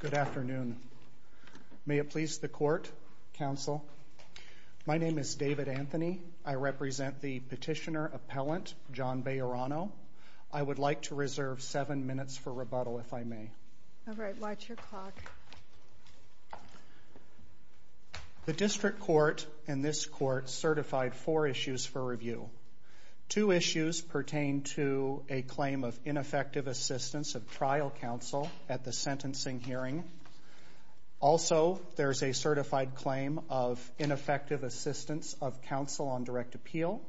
Good afternoon. May it please the court, counsel? My name is David Anthony. I represent the petitioner-appellant John Bejarano. I would like to reserve seven minutes for rebuttal if I may. All right, watch your clock. The district court and this court certified four issues for review. Two issues pertain to a claim of ineffective assistance of trial counsel at the sentencing hearing. Also, there's a certified claim of ineffective assistance of counsel on direct appeal.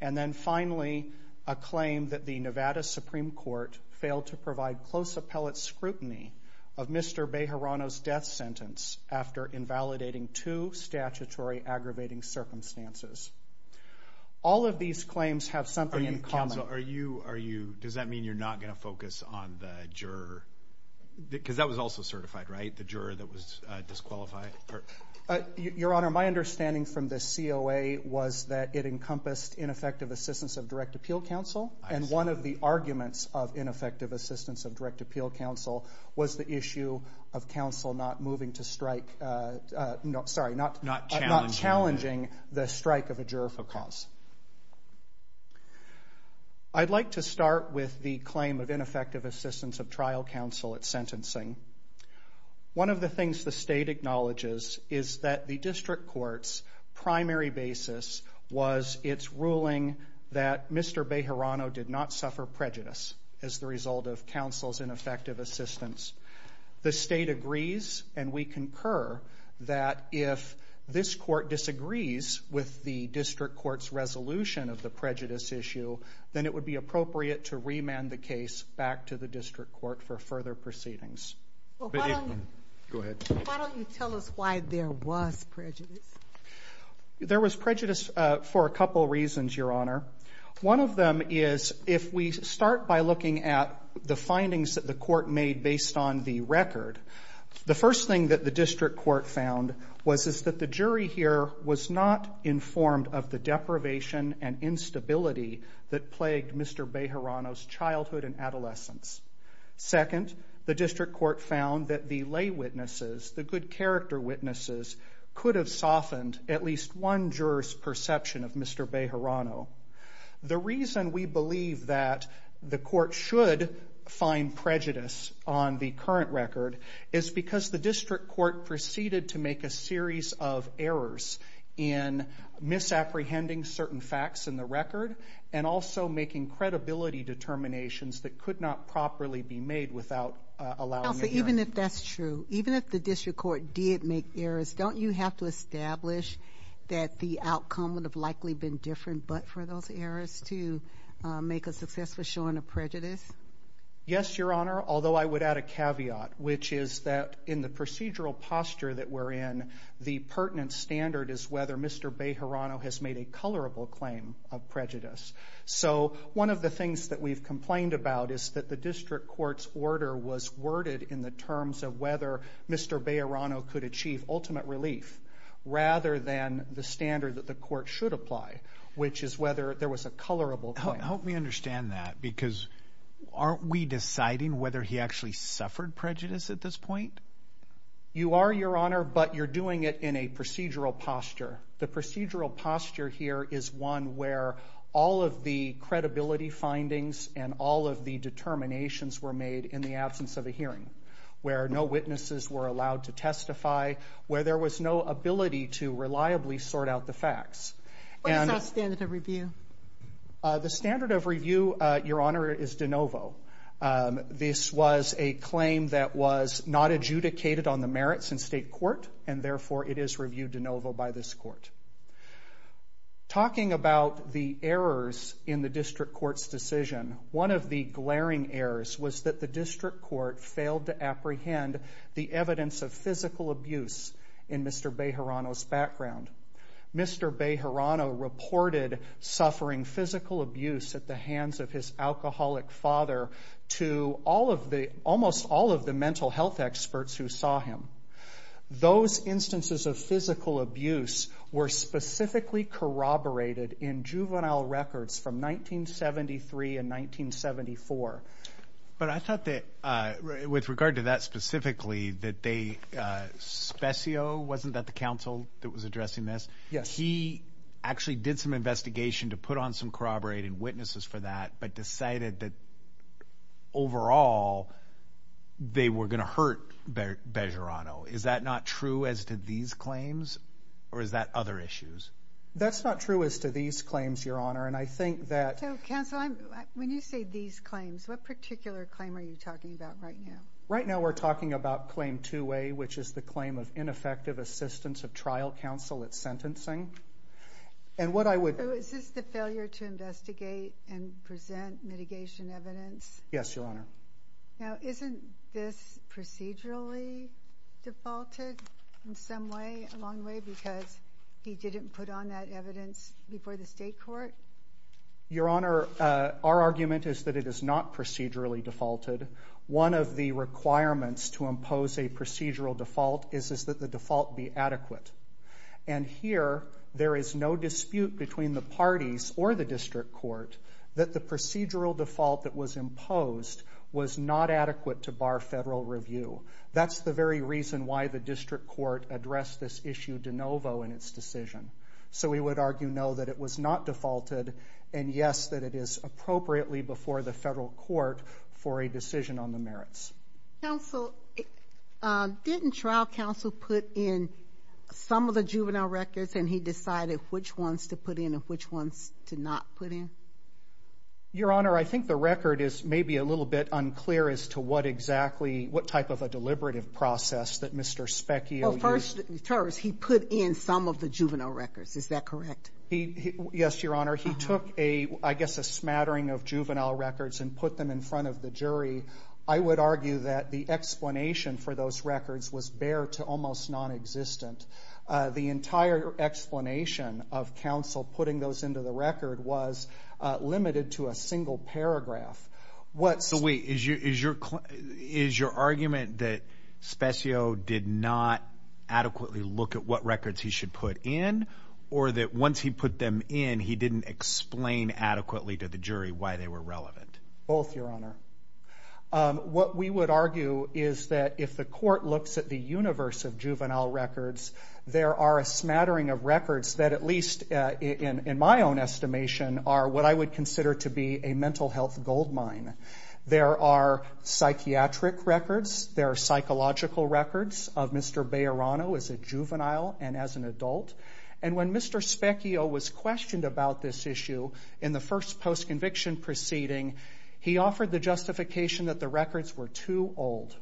And then finally, a claim that the Nevada Supreme Court failed to provide close appellate scrutiny of Mr. Bejarano's death sentence after invalidating two statutory aggravating circumstances. All of these claims have something in common. Are you, does that mean you're not going to focus on the juror? Because that was also certified, right? The juror that was disqualified? Your Honor, my understanding from the COA was that it encompassed ineffective assistance of direct appeal counsel. And one of the arguments of ineffective assistance of direct appeal counsel was the issue of counsel not moving to strike, sorry, not challenging the strike of a juror for cause. I'd like to start with the claim of ineffective assistance of trial counsel at sentencing. One of the things the state acknowledges is that the district court's primary basis was its ruling that Mr. Bejarano did not suffer prejudice as the result of counsel's ineffective assistance. The state agrees, and we concur, that if this court disagrees with the district court's resolution of the prejudice issue, then it would be appropriate to remand the case back to the district court for further proceedings. Go ahead. Why don't you tell us why there was prejudice? There was prejudice for a couple reasons, Your Honor. One of them is if we start by looking at the The first thing that the district court found was that the jury here was not informed of the deprivation and instability that plagued Mr. Bejarano's childhood and adolescence. Second, the district court found that the lay witnesses, the good character witnesses, could have softened at least one juror's perception of Mr. Bejarano. The reason we believe that the court should find prejudice on the current record is because the district court proceeded to make a series of errors in misapprehending certain facts in the record and also making credibility determinations that could not properly be made without allowing the jurors Counsel, even if that's true, even if the district court did make errors, don't you have to establish that the outcome would have likely been different but for those errors to make a successful showing of prejudice? Yes, Your Honor, although I would add a caveat, which is that in the procedural posture that we're in, the pertinent standard is whether Mr. Bejarano has made a colorable claim of prejudice. So one of the things that we've complained about is that the district court's order was worded in the terms of whether Mr. Bejarano could achieve ultimate relief rather than the standard that the court should apply, which is whether there was a colorable claim. Help me understand that because aren't we deciding whether he actually suffered prejudice at this point? You are, Your Honor, but you're doing it in a procedural posture. The procedural posture here is one where all of the credibility findings and all of the determinations were made in the absence of a hearing, where no witnesses were allowed to testify, where there was no ability to reliably sort out the facts. What is that standard of review? The standard of review, Your Honor, is de novo. This was a claim that was not adjudicated on the merits in state court and therefore it is reviewed de novo by this court. Talking about the errors in the district court's decision, one of the glaring errors was that the district court failed to apprehend the evidence of physical abuse in Mr. Bejarano's background. Mr. Bejarano reported suffering physical abuse at the hands of his alcoholic father to almost all of the mental health experts who saw him. Those instances of physical abuse were specifically corroborated in juvenile records from 1973 and 1974. But I thought that, with regard to that specifically, that they, Specio, wasn't that the counsel that was addressing this? Yes. He actually did some investigation to put on some corroborating witnesses for that, but decided that overall they were going to hurt Bejarano. Is that not true as to these claims or is that other issues? That's not true as to these claims, Your Honor, and I think that... So, counsel, when you say these claims, what particular claim are you talking about right now? Right now we're talking about claim 2A, which is the claim of ineffective assistance of trial counsel at sentencing. And what I would... Is this the failure to investigate and present mitigation evidence? Yes, Your Honor. Now isn't this procedurally defaulted in some way, a long way, because he didn't put on that evidence before the state court? Your Honor, our argument is that it is not procedurally defaulted. One of the requirements to impose a procedural default is that the default be adequate. And here, there is no dispute between the parties or the district court that the procedural default that was imposed was not adequate to bar federal review. That's the we would argue no, that it was not defaulted, and yes, that it is appropriately before the federal court for a decision on the merits. Counsel, didn't trial counsel put in some of the juvenile records and he decided which ones to put in and which ones to not put in? Your Honor, I think the record is maybe a little bit unclear as to what exactly, what type of a deliberative process that Mr. Specchio used. Well, first, he put in some of the juvenile records. Is that correct? Yes, Your Honor. He took a, I guess a smattering of juvenile records and put them in front of the jury. I would argue that the explanation for those records was bare to almost non-existent. The entire explanation of counsel putting those into the record was limited to a single paragraph. So wait, is your argument that Specchio did not adequately look at what records he should put in or that once he put them in, he didn't explain adequately to the jury why they were relevant? Both, Your Honor. What we would argue is that if the court looks at the universe of juvenile records, there are a smattering of records that at least in my own estimation are what I would consider to be a mental health goldmine. There are psychiatric records. There are psychological records of Mr. Bejarano as a juvenile and as an adult. And when Mr. Specchio was questioned about this issue in the first post-conviction proceeding, he offered the justification that the records were too old.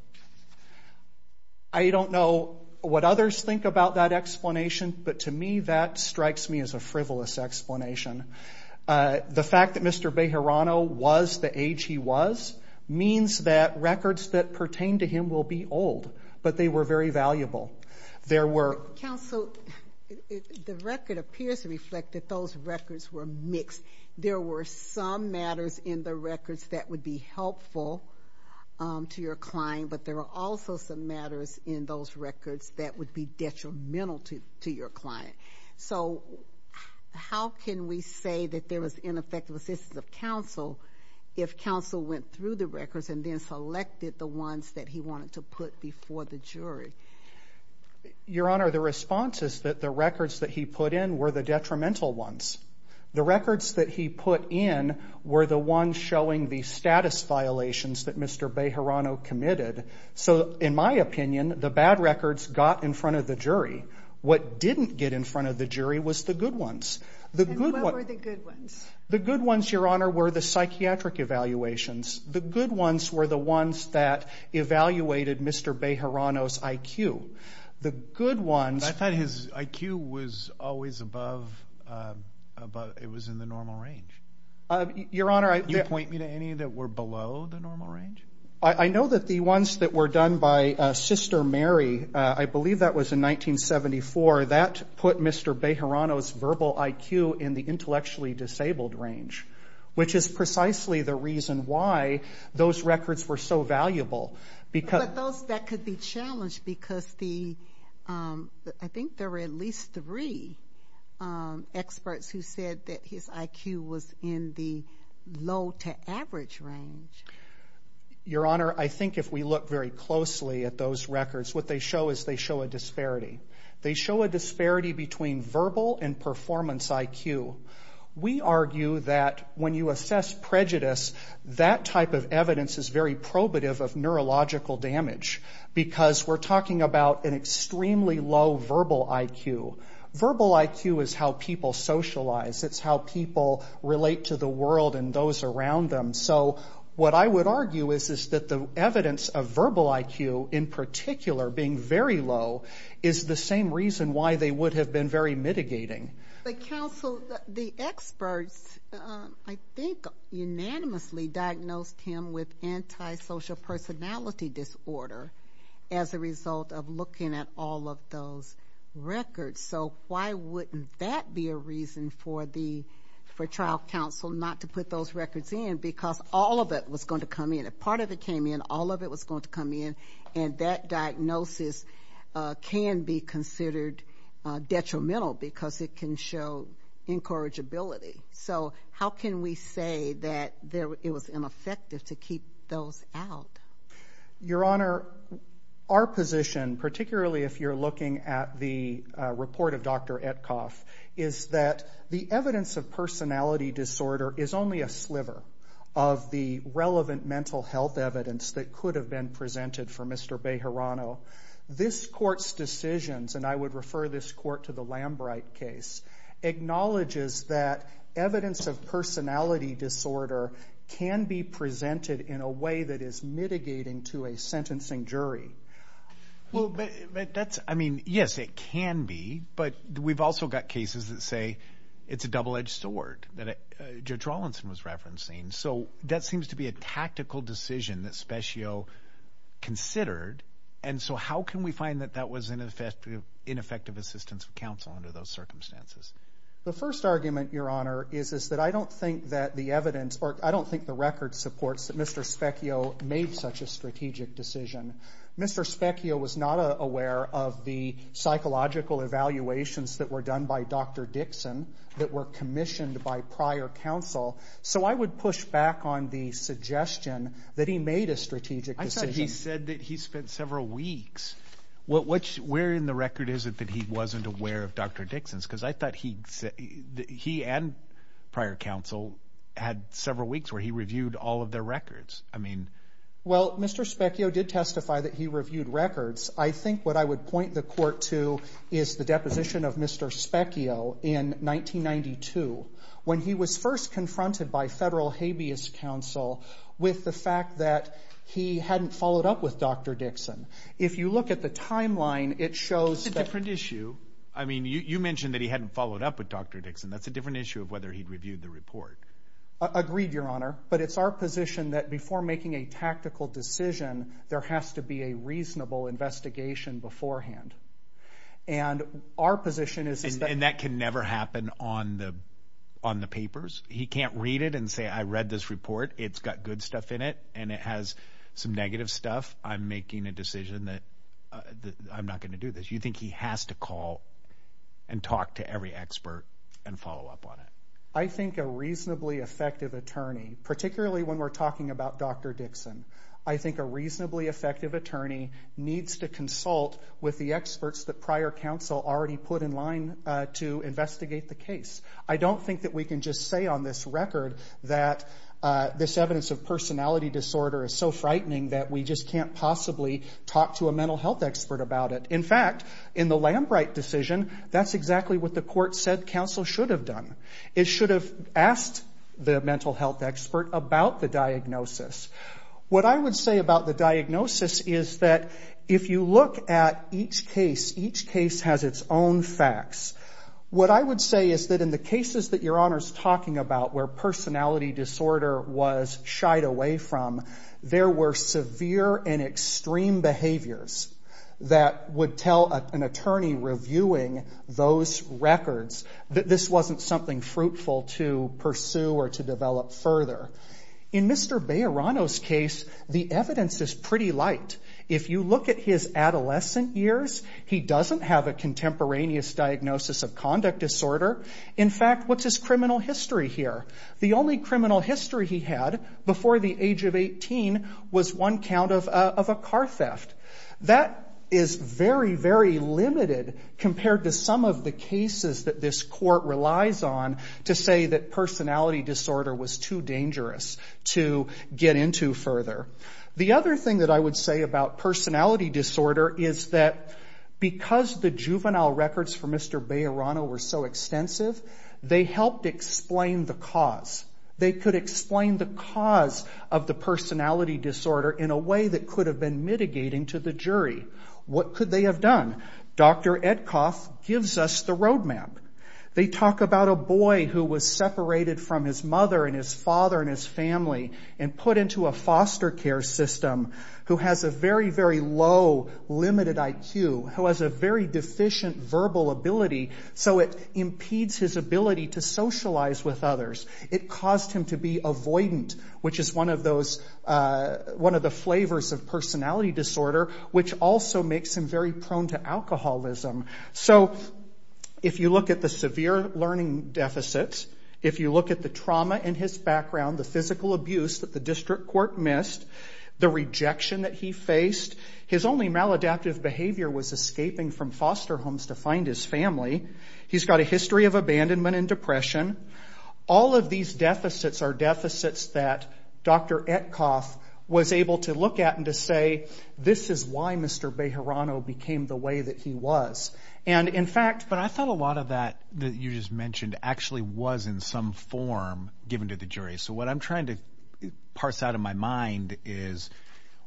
I don't know what others think about that explanation, but to me that strikes me as a frivolous explanation. The fact that Mr. Bejarano was the age he was means that records that pertain to him will be old, but they were very valuable. There were Counsel, the record appears to reflect that those records were mixed. There were some matters in the records that would be helpful to your client, but there were also some matters in those records that would be detrimental to your client. So how can we say that there was ineffective assistance of Counsel if Counsel went through the records and then selected the ones that he wanted to put before the jury? Your Honor, the response is that the records that he put in were the detrimental ones. The records that he put in were the ones showing the status violations that Mr. Bejarano committed. So in my opinion, the bad records got in front of the jury. What didn't get in front of the jury was the good ones. And what were the good ones? The good ones, Your Honor, were the psychiatric evaluations. The good ones were the ones that evaluated Mr. Bejarano's IQ. The good ones... But isn't that his IQ was always above, it was in the normal range? Your Honor, I... You point me to any that were below the normal range? I know that the ones that were done by Sister Mary, I believe that was in 1974, that put Mr. Bejarano's verbal IQ in the intellectually disabled range, which is precisely the reason why those records were so valuable. But those that could be challenged because the, I think there were at least three experts who said that his IQ was in the low to average range. Your Honor, I think if we look very closely at those records, what they show is they show a disparity. They show a disparity between verbal and performance IQ. We argue that when you assess prejudice, that type of evidence is very probative of neurological damage because we're talking about an extremely low verbal IQ. Verbal IQ is how people socialize. It's how people relate to the world and those around them. So what I would argue is that the evidence of verbal IQ in particular being very low is the same reason why they would have been very mitigating. But counsel, the experts, I think unanimously diagnosed him with antisocial personality disorder as a result of looking at all of those records. So why wouldn't that be a reason for the, for trial counsel not to put those records in because all of it was going to come in. A part of it came in. All of it was going to come in. And that diagnosis can be can show incorrigibility. So how can we say that it was ineffective to keep those out? Your Honor, our position, particularly if you're looking at the report of Dr. Etcoff, is that the evidence of personality disorder is only a sliver of the relevant mental health evidence that could have been presented for Mr. Bejarano. This Court's decisions, and I would refer this Court to the Lambright case, acknowledges that evidence of personality disorder can be presented in a way that is mitigating to a sentencing jury. Well, but that's, I mean, yes, it can be. But we've also got cases that say it's a double-edged sword that Judge Rawlinson was referencing. So that seems to be a tactical decision that would make ineffective assistance for counsel under those circumstances. The first argument, Your Honor, is that I don't think that the evidence, or I don't think the record supports that Mr. Specchio made such a strategic decision. Mr. Specchio was not aware of the psychological evaluations that were done by Dr. Dixon that were commissioned by prior counsel. So I would push back on the suggestion that he made a strategic decision. I thought he said that he spent several weeks. Where in the record is it that he wasn't aware of Dr. Dixon's? Because I thought he and prior counsel had several weeks where he reviewed all of their records. I mean... Well, Mr. Specchio did testify that he reviewed records. I think what I would point the Court to is the deposition of Mr. Specchio in 1992, when he was first confronted by Federal Habeas Council, with the fact that he hadn't followed up with Dr. Dixon. If you look at the timeline, it That's a different issue. I mean, you mentioned that he hadn't followed up with Dr. Dixon. That's a different issue of whether he'd reviewed the report. Agreed, Your Honor. But it's our position that before making a tactical decision, there has to be a reasonable investigation beforehand. And our position is... And that can never happen on the papers? He can't read it and say, I read this report. It's got good stuff in it, and it has some negative stuff. I'm making a decision that I'm not going to do this. You think he has to call and talk to every expert and follow up on it? I think a reasonably effective attorney, particularly when we're talking about Dr. Dixon, I think a reasonably effective attorney needs to consult with the experts that prior counsel already put in line to investigate the case. I don't think that we can just say on this record that this evidence of personality disorder is so frightening that we just can't possibly talk to a mental health expert about it. In fact, in the Lambright decision, that's exactly what the court said counsel should have done. It should have asked the mental health expert about the diagnosis. What I would say about the diagnosis is that if you look at each case, each case has its own facts. What I would say is that in the cases that Your Honor's talking about where personality disorder was shied away from, there were severe and extreme behaviors that would tell an attorney reviewing those records that this wasn't something fruitful to pursue or to develop further. In Mr. Bejarano's case, the evidence is pretty light. If you look at his adolescent years, he doesn't have a contemporaneous diagnosis of conduct disorder. In fact, what's his criminal history here? The only criminal history he had before the age of 18 was one count of a car theft. That is very, very limited compared to some of the cases that this court relied on. To say that personality disorder was too dangerous to get into further. The other thing that I would say about personality disorder is that because the juvenile records for Mr. Bejarano were so extensive, they helped explain the cause. They could explain the cause of the personality disorder in a way that could have been mitigating to the jury. What could they have done? Dr. Edcoff gives us the roadmap. They talk about a boy who was separated from his mother and his father and his family and put into a foster care system who has a very, very low limited IQ, who has a very deficient verbal ability, so it impedes his ability to socialize with others. It caused him to be avoidant, which is one of the flavors of personality disorder, which also makes him very prone to alcoholism. If you look at the severe learning deficits, if you look at the trauma in his background, the physical abuse that the district court missed, the rejection that he faced, his only maladaptive behavior was escaping from foster homes to find his family. He's got a history of abandonment and depression. All of these deficits are deficits that the district court missed. Dr. Edcoff was able to look at and to say, this is why Mr. Bejarano became the way that he was. In fact, but I thought a lot of that that you just mentioned actually was in some form given to the jury. What I'm trying to parse out of my mind is,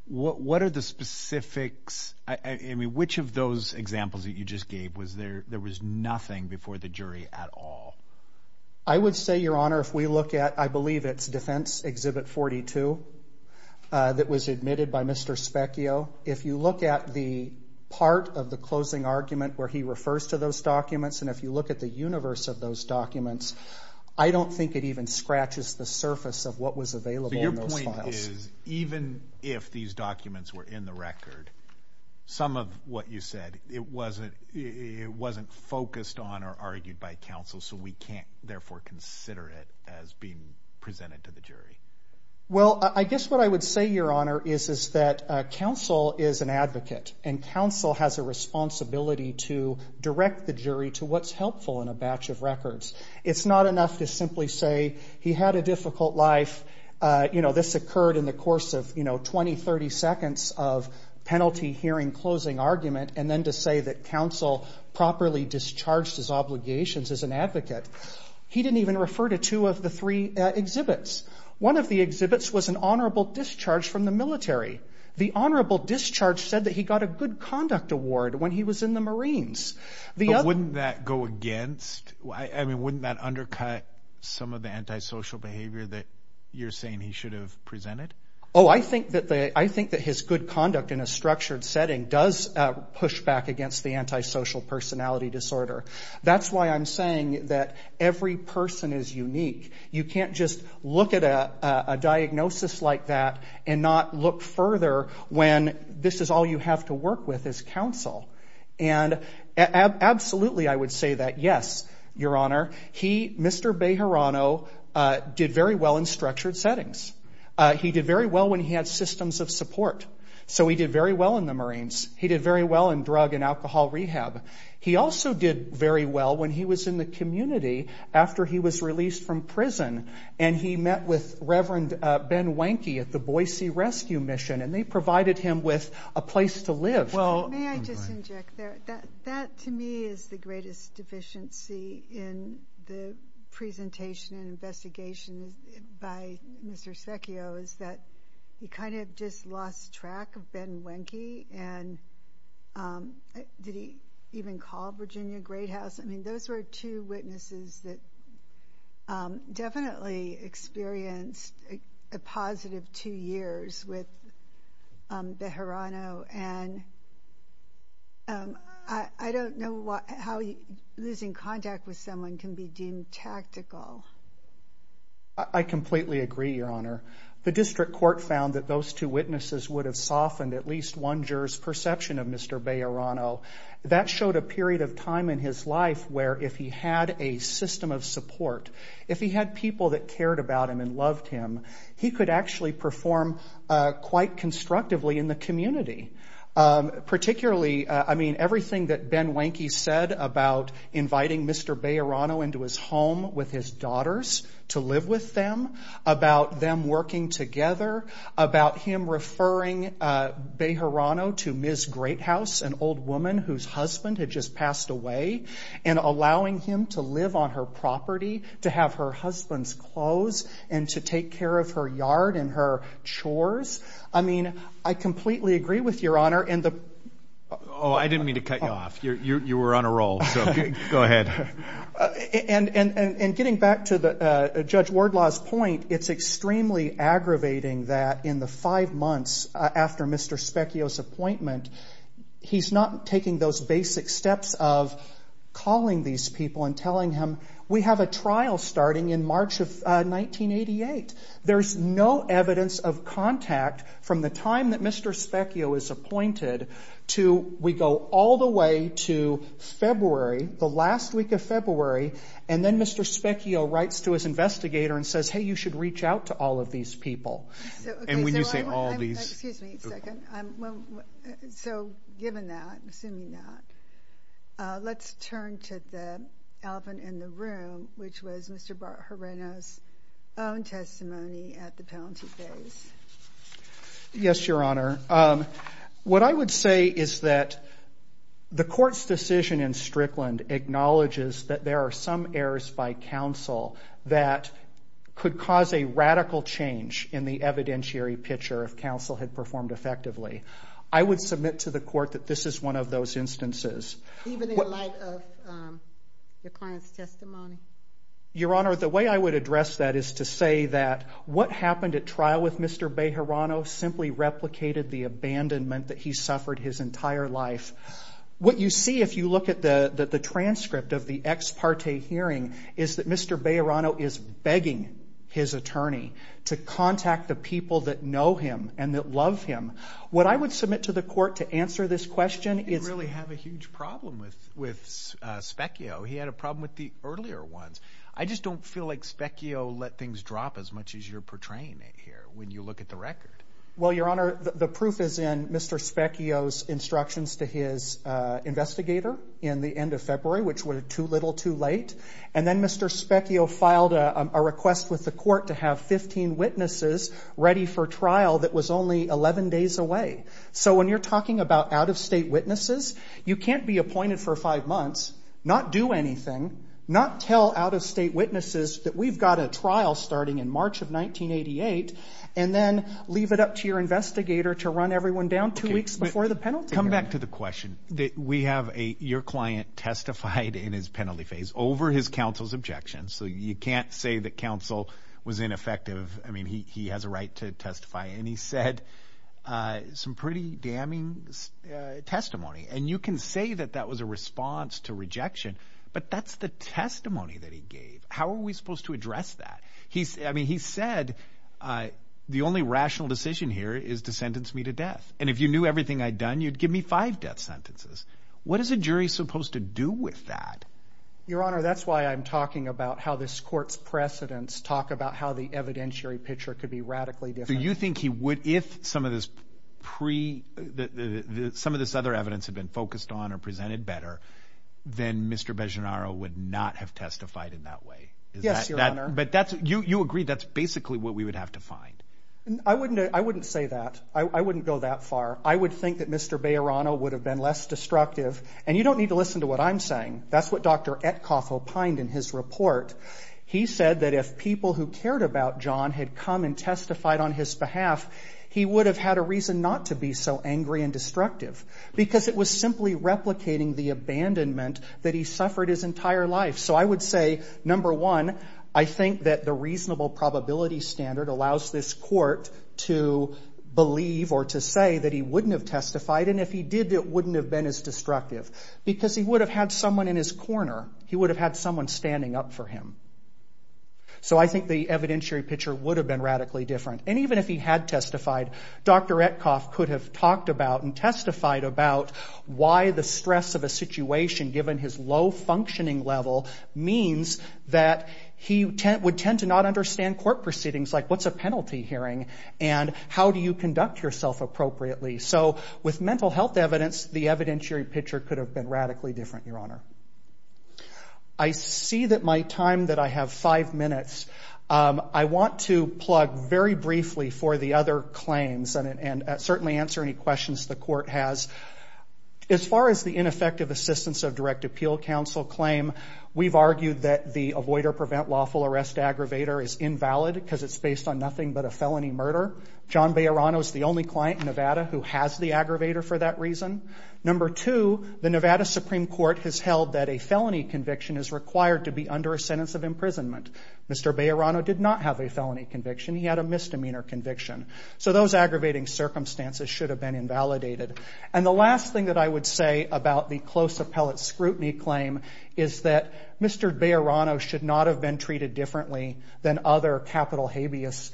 what are the specifics? Which of those examples that you just gave, was there was nothing before the jury at all? I would say, Your Honor, if we look at, I believe it's Defense Exhibit 42 that was admitted by Mr. Specchio. If you look at the part of the closing argument where he refers to those documents, and if you look at the universe of those documents, I don't think it even scratches the surface of what was available in those files. Even if these documents were in the record, some of what you said, it wasn't focused on or argued by counsel, so we can't therefore consider it as being presented to the jury. Well, I guess what I would say, Your Honor, is that counsel is an advocate, and counsel has a responsibility to direct the jury to what's helpful in a batch of records. It's not enough to simply say, he had a difficult life, this occurred in the course of 20, 30 seconds of penalty hearing closing argument, and then to say that counsel properly discharged his sentence, he didn't even refer to two of the three exhibits. One of the exhibits was an honorable discharge from the military. The honorable discharge said that he got a good conduct award when he was in the Marines. Wouldn't that undercut some of the antisocial behavior that you're saying he should have presented? Oh, I think that his good conduct in a structured setting does push back against the antisocial personality disorder. That's why I'm saying that every person is unique. You can't just look at a diagnosis like that and not look further when this is all you have to work with is counsel. And absolutely I would say that, yes, Your Honor, he, Mr. Bejarano, did very well in structured settings. He did very well when he had systems of support. So he did very well in the Marines. He did very well in drug and alcohol rehab. He also did very well when he was in the community after he was released from prison, and he met with Reverend Ben Wenke at the Boise Rescue Mission, and they provided him with a place to live. Well, may I just interject there? That, to me, is the greatest deficiency in the presentation and investigation by Mr. Bejarano. I mean, I don't know how losing contact with someone can be deemed tactical. I completely agree, Your Honor. The district court found that those two witnesses would have softened at least one juror's perception of Mr. Bejarano. That showed a period of time in his life where if he had a system of support, if he had people that cared about him and loved him, he could actually perform quite constructively in the community. Particularly, I mean, everything that Ben Wenke said about inviting Mr. Bejarano into his home with his daughter, and I think that's a very important point. I mean, the fact that he allowed his daughters to live with them, about them working together, about him referring Bejarano to Ms. Greathouse, an old woman whose husband had just passed away, and allowing him to live on her property, to have her husband's clothes, and to take care of her yard and her chores. I mean, I completely agree with Your Honor. To Judge Wardlaw's point, it's extremely aggravating that in the five months after Mr. Specchio's appointment, he's not taking those basic steps of calling these people and telling them, we have a trial starting in March of 1988. There's no evidence of contact from the time that Mr. Specchio is appointed to we go all the way to February, the last week of the trial, and then he gets to his investigator and says, hey, you should reach out to all of these people. Excuse me a second. So given that, assuming that, let's turn to the elephant in the room, which was Mr. Bejarano's own testimony at the penalty base. Yes, Your Honor. What I would say is that the court's decision in Strickland acknowledges that there are some errors by counsel that could cause a radical change in the evidentiary picture if counsel had performed effectively. I would submit to the court that this is one of those instances. Even in light of your client's testimony? Your Honor, the way I would address that is to say that what happened at trial with Mr. Bejarano simply replicated the fact that Mr. Bejarano is begging his attorney to contact the people that know him and that love him. What I would submit to the court to answer this question is... He didn't really have a huge problem with Specchio. He had a problem with the earlier ones. I just don't feel like Specchio let things drop as much as you're portraying it here when you look at the record. Well, Your Honor, the proof is in Mr. Specchio's instructions to his investigator in the end of February, which were too little, too late. And then Mr. Specchio filed a request with the court to have 15 witnesses ready for trial that was only 11 days away. So when you're talking about out-of-state witnesses, you can't be appointed for five months, not do anything, not tell out-of-state witnesses that we've got a trial starting in March of 1988, and then leave it up to your investigator to run everyone down two weeks before the penalty period. So Mr. Bejarano, you can't say that counsel was ineffective. I mean, he has a right to testify, and he said some pretty damning testimony. And you can say that that was a response to rejection, but that's the testimony that he gave. How are we supposed to address that? I mean, he said the only rational decision here is to sentence me to death. And if you knew everything I'd done, you'd give me five death sentences. What is a jury supposed to do with that? Your Honor, that's why I'm talking about how this court's precedents talk about how the evidentiary picture could be radically different. So you think he would, if some of this other evidence had been focused on or presented better, then Mr. Bejarano would not have testified in that way? Yes, Your Honor. I wouldn't say that. I wouldn't go that far. I would think that Mr. Bejarano would have been less destructive. And you don't need to listen to what I'm saying. That's what Dr. Etkoff opined in his report. He said that if people who cared about John had come and testified on his behalf, he would have had a reason not to be so angry and destructive, because it was simply replicating the evidence. And if he did, it wouldn't have been as destructive, because he would have had someone in his corner. He would have had someone standing up for him. And even if he had testified, Dr. Etkoff could have talked about and testified about why the stress of a situation, given his low IQ, was so high that he would tend to not understand court proceedings, like what's a penalty hearing, and how do you conduct yourself appropriately. So with mental health evidence, the evidentiary picture could have been radically different, Your Honor. I see that my time, that I have five minutes, I want to plug very briefly for the other claims and certainly answer any questions the Court has. One, the Nevada Supreme Court's prevent lawful arrest aggravator is invalid, because it's based on nothing but a felony murder. John Bejarano is the only client in Nevada who has the aggravator for that reason. Number two, the Nevada Supreme Court has held that a felony conviction is required to be under a sentence of imprisonment. Mr. Bejarano did not have a felony conviction. He had a misdemeanor conviction. So those aggravating circumstances should have been invalidated. And the last thing that I would say about the close appellate scrutiny claim is that Mr. Bejarano should not have been treated differently than other capital habeas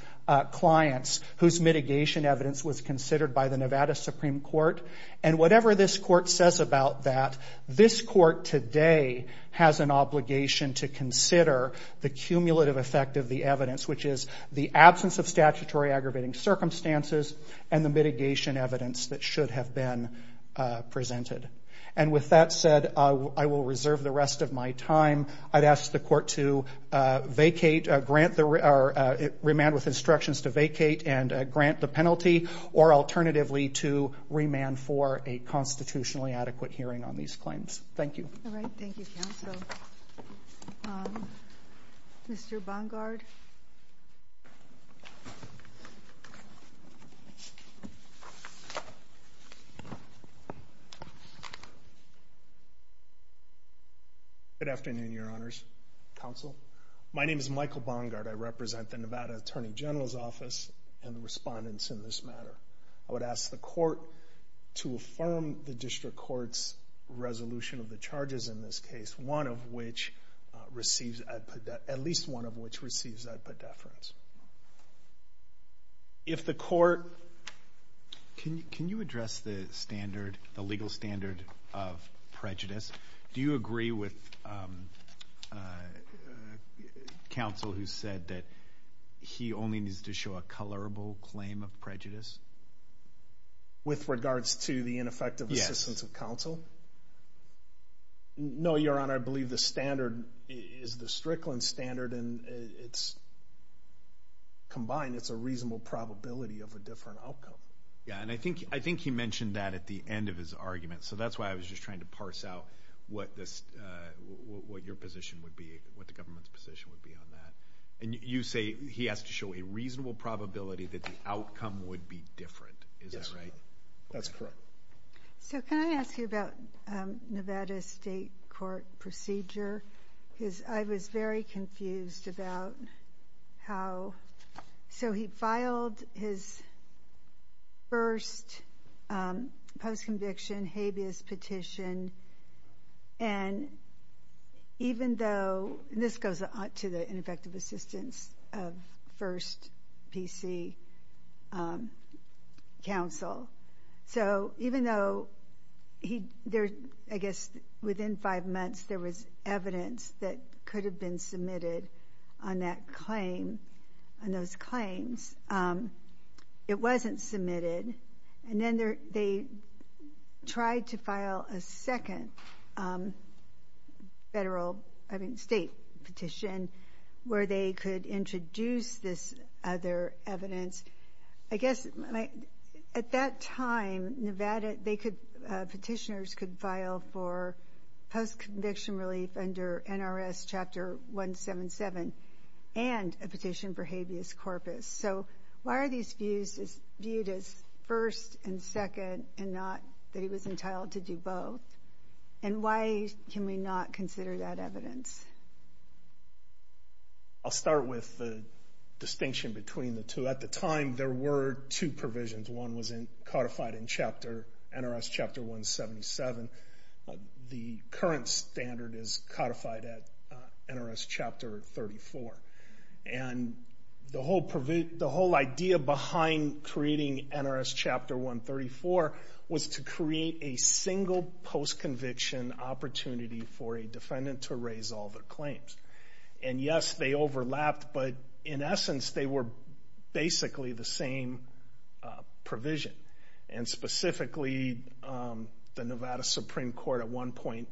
clients whose mitigation evidence was considered by the Nevada Supreme Court. And whatever this Court says about that, this Court today has an obligation to consider the cumulative effect of the evidence, which is the absence of statutory aggravating circumstances and the mitigation evidence that should have been considered. And with that said, I will reserve the rest of my time. I'd ask the Court to vacate, or remand with instructions to vacate and grant the penalty, or alternatively to remand for a constitutionally adequate hearing on these claims. Thank you. All right. Thank you, counsel. Mr. Bongard? Good afternoon, Your Honors. Counsel. My name is Michael Bongard. I represent the Nevada Attorney General's Office and the respondents in this matter. I would ask the Court to affirm the District Court's resolution of the charges in this case, one of which receives, at least one of which receives, ad pedefrans. Can you address the legal standard of prejudice? Do you agree with counsel who said that he only needs to show a colorable claim of prejudice? With regards to the ineffective assistance of counsel? Yes. No, Your Honor, I believe the standard is the Strickland standard, and it's combined. It's a reasonable probability of a different outcome. Yeah, and I think he mentioned that at the end of his argument, so that's why I was just trying to parse out what your position would be, what the government's position would be on that. And you say he has to show a reasonable probability that the outcome would be different. Is that right? That's correct. So can I ask you about Nevada's state court procedure? I was very confused about how, so he filed his first post-conviction habeas petition, and even though, and this goes to the ineffective assistance of first PC counsel, so even though, I guess within five months there was evidence that could have been submitted on that claim, on those claims, it wasn't submitted, and then they tried to file a second federal, I mean state, petition where they could introduce this other evidence. I guess, at that time, Nevada, they could, petitioners could file for post-conviction relief under NRS Chapter 177 and a petition for habeas corpus. So why are these views viewed as first and second and not that he was entitled to do both? And why can we not consider that evidence? I'll start with the distinction between the two. At the time, there were two provisions. One was codified in NRS Chapter 177, the current standard is codified at NRS Chapter 34. And the whole idea behind creating NRS Chapter 134 was to create a single post-conviction opportunity for a defendant to raise all their claims. And yes, they overlapped, but in essence, they were basically the same provision. And specifically, the Nevada Supreme Court at one point,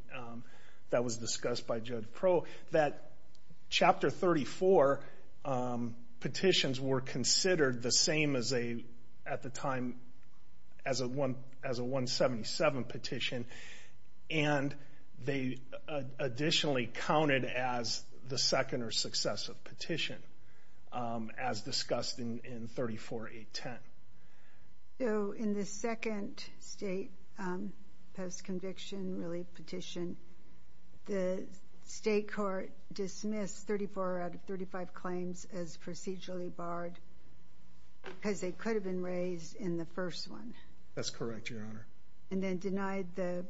that was discussed by Joe DiPro, that Chapter 34 petitions were considered the same as a, at the time, as a 177 petition. And they additionally counted as the second or successive petition, as discussed in 34.810. So in the second state post-conviction relief petition, the state court dismissed 34 out of 35 claims as procedurally barred, because they could have been raised in the first one. And the third, the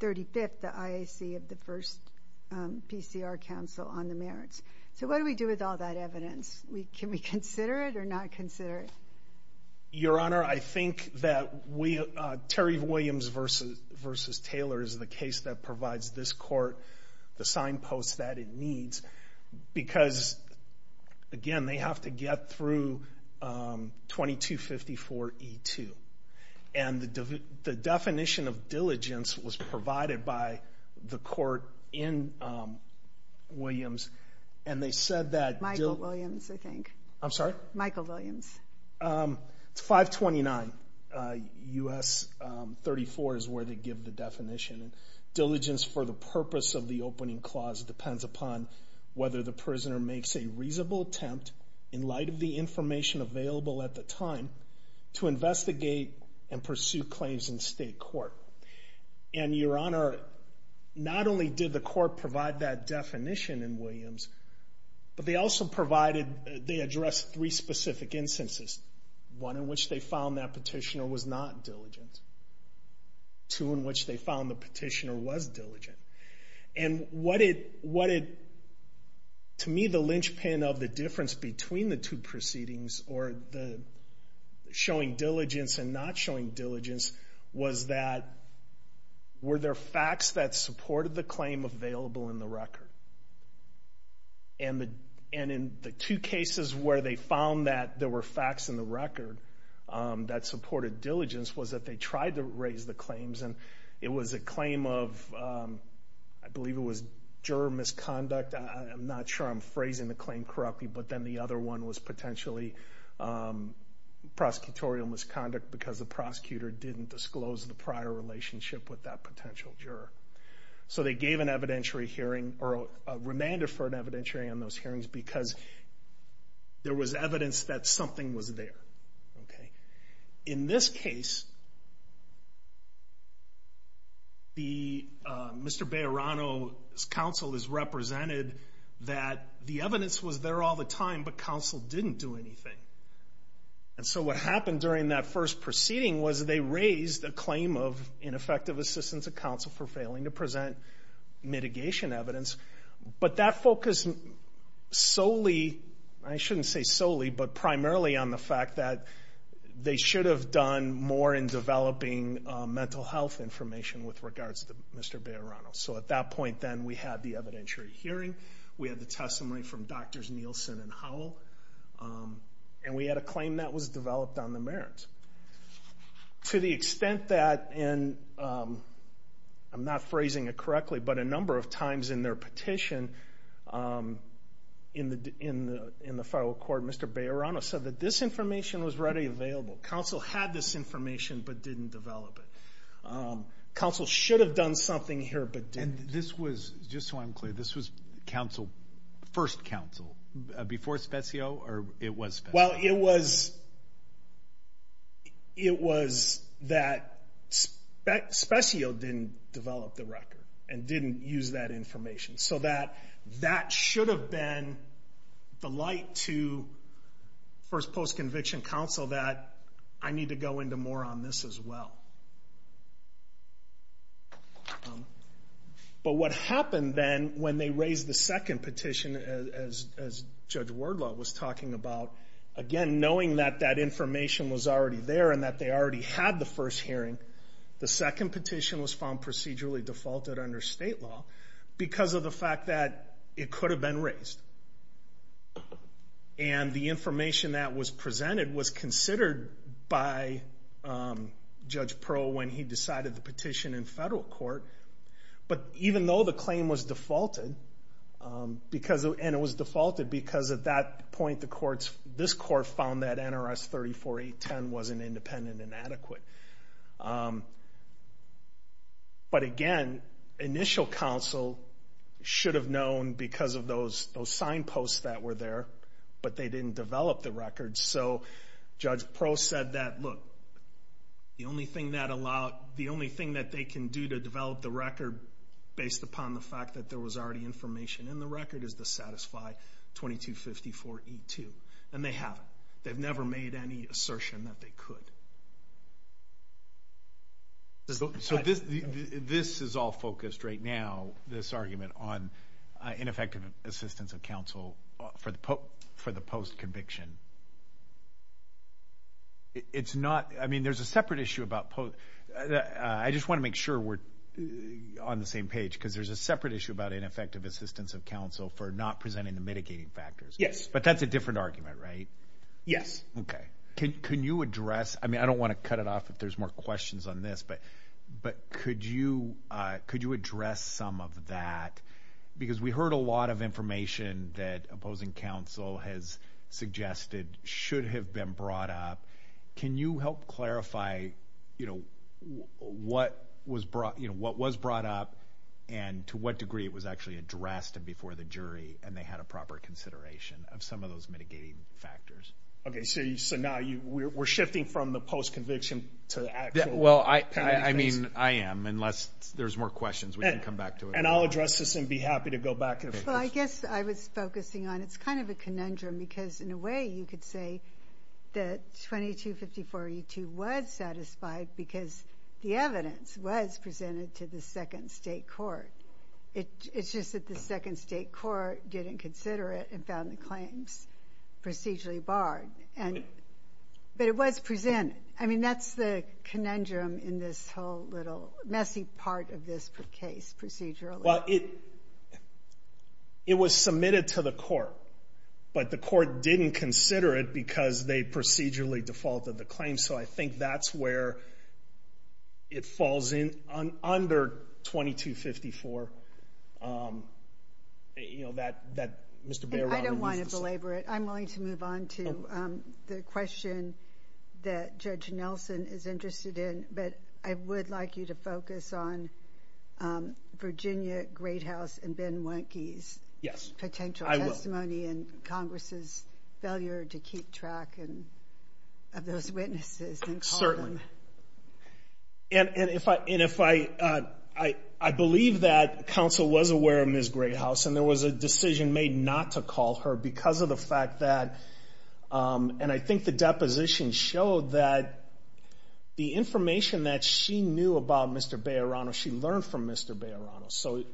35th, the IAC of the first PCR council on the merits. So what do we do with all that evidence? Can we consider it or not consider it? Your Honor, I think that Terry Williams v. Taylor is the case that provides this court the signposts that it needs. Because again, they have to get through 2254E2. And the definition of diligence was provided by the court in Williams. And they said that- It's 529 U.S. 34 is where they give the definition. Diligence for the purpose of the opening clause depends upon whether the prisoner makes a reasonable attempt, in light of the information available at the time, to investigate and pursue claims in state court. And Your Honor, not only did the court provide that definition in Williams, but they also provided- they addressed three specific instances. One in which they found that petitioner was not diligent. Two in which they found the petitioner was diligent. And what it- to me, the linchpin of the difference between the two proceedings, or the showing diligence and not showing diligence, were there facts that supported the claim available in the record. And in the two cases where they found that there were facts in the record that supported diligence, was that they tried to raise the claims. And it was a claim of, I believe it was juror misconduct. I'm not sure I'm phrasing the claim correctly, but then the other one was potentially prosecutorial misconduct because the prosecutor didn't disclose the prior relationship with that potential juror. So they gave an evidentiary hearing, or remanded for an evidentiary hearing on those hearings, because there was evidence that something was there. In this case, Mr. Bejarano's counsel is represented that the evidence was there all the time, but counsel didn't do anything. And so what happened during that first proceeding was they raised a claim of ineffective assistance of counsel for failing to present mitigation evidence. But that focused solely- I shouldn't say solely, but primarily on the fact that they should have done more in developing mental health information with regards to Mr. Bejarano. So at that point then, we had the evidentiary hearing, we had the testimony from Drs. Nielsen and Howell, and we had a claim that was developed on the merits. To the extent that, and I'm not phrasing it correctly, but a number of times in their petition in the federal court, Mr. Bejarano said that this information was readily available. Counsel had this information, but didn't develop it. Counsel should have done something here, but didn't. And this was, just so I'm clear, this was first counsel, before Spezio, or it was Spezio? Well, it was that Spezio didn't develop the record and didn't use that information. So that should have been the light to first post-conviction counsel that I need to go into more on this as well. But what happened then, when they raised the second petition, as Judge Wardlaw was talking about, again, knowing that that information was already there and that they already had the first hearing, the second petition was found procedurally defaulted under state law, because of the fact that it could have been raised. And the information that was presented was considered by Judge Pearl when he decided the petition in federal court. But even though the claim was defaulted, and it was defaulted because at that point this court found that NRS 34.810 wasn't independent and adequate. But again, initial counsel should have known because of those sign posts that were there, but they didn't develop the record. So Judge Pearl said that, look, the only thing that they can do to develop the record based upon the fact that there was already information in the record is to satisfy 2254E2. And they haven't. They've never made any assertion that they could. So this is all focused right now, this argument on ineffective assistance of counsel for the post-conviction. It's not, I mean, there's a separate issue about post. I just want to make sure we're on the same page because there's a separate issue about ineffective assistance of counsel for not presenting the mitigating factors. Yes. But that's a different argument, right? Yes. Okay. Can you address, I mean, I don't want to cut it off if there's more questions on this, but could you address some of that? Because we heard a lot of information that opposing counsel has suggested should have been brought up. Can you help clarify what was brought up and to what degree it was actually addressed before the jury and they had a proper consideration of some of those mitigating factors? Okay. So now we're shifting from the post-conviction to the actual mitigating factors? Well, I mean, I am, unless there's more questions. We can come back to it. And I'll address this and be happy to go back. Well, I guess I was focusing on, it's kind of a conundrum, because in a way you could say that 2254E2 was satisfied because the evidence was presented to the second state court. It's just that the second state court didn't consider it and found the claims procedurally barred. But it was presented. I mean, that's the conundrum in this whole little messy part of this case, procedurally. Well, it was submitted to the court, but the court didn't consider it because they procedurally defaulted the claim. So I think that's where it falls in under 2254. You know, that Mr. Baird... I don't want to belabor it. I'm willing to move on to the question that Judge Nelson is interested in, but I would like you to focus on Virginia Great House and Ben Wendtke's potential testimony and Congress' failure to keep track of those witnesses and call them. And I believe that counsel was aware of Ms. Great House and there was a decision made not to call her because of the fact that... And I think the deposition showed that the information that she knew about Mr. Bairano, she learned from Mr. Bairano. So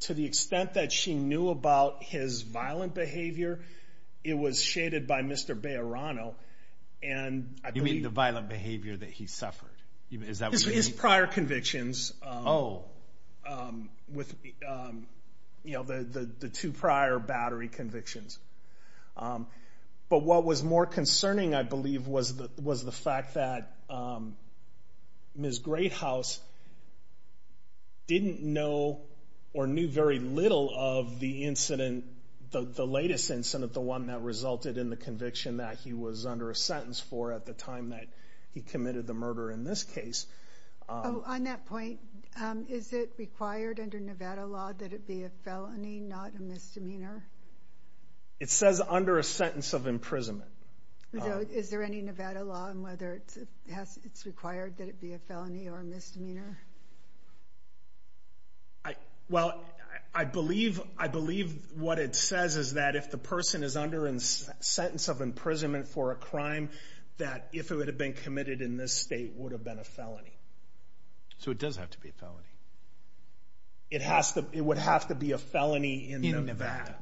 to the extent that she knew about his violent behavior, it was shaded by Mr. Bairano. You mean the violent behavior that he suffered? His prior convictions. Oh. The two prior battery convictions. But what was more concerning, I believe, was the fact that Ms. Great House didn't know or knew very little of the incident, the latest incident, the one that resulted in the conviction that he was under a sentence for at the time that he committed the murder in this case. On that point, is it required under Nevada law that it be a felony, not a misdemeanor? It says under a sentence of imprisonment. Is there any Nevada law on whether it's required that it be a felony or a misdemeanor? Well, I believe what it says is that if the person is under a sentence of imprisonment for a crime, that if it would have been committed in this state, it would have been a felony. So it does have to be a felony. It would have to be a felony in Nevada. In Nevada.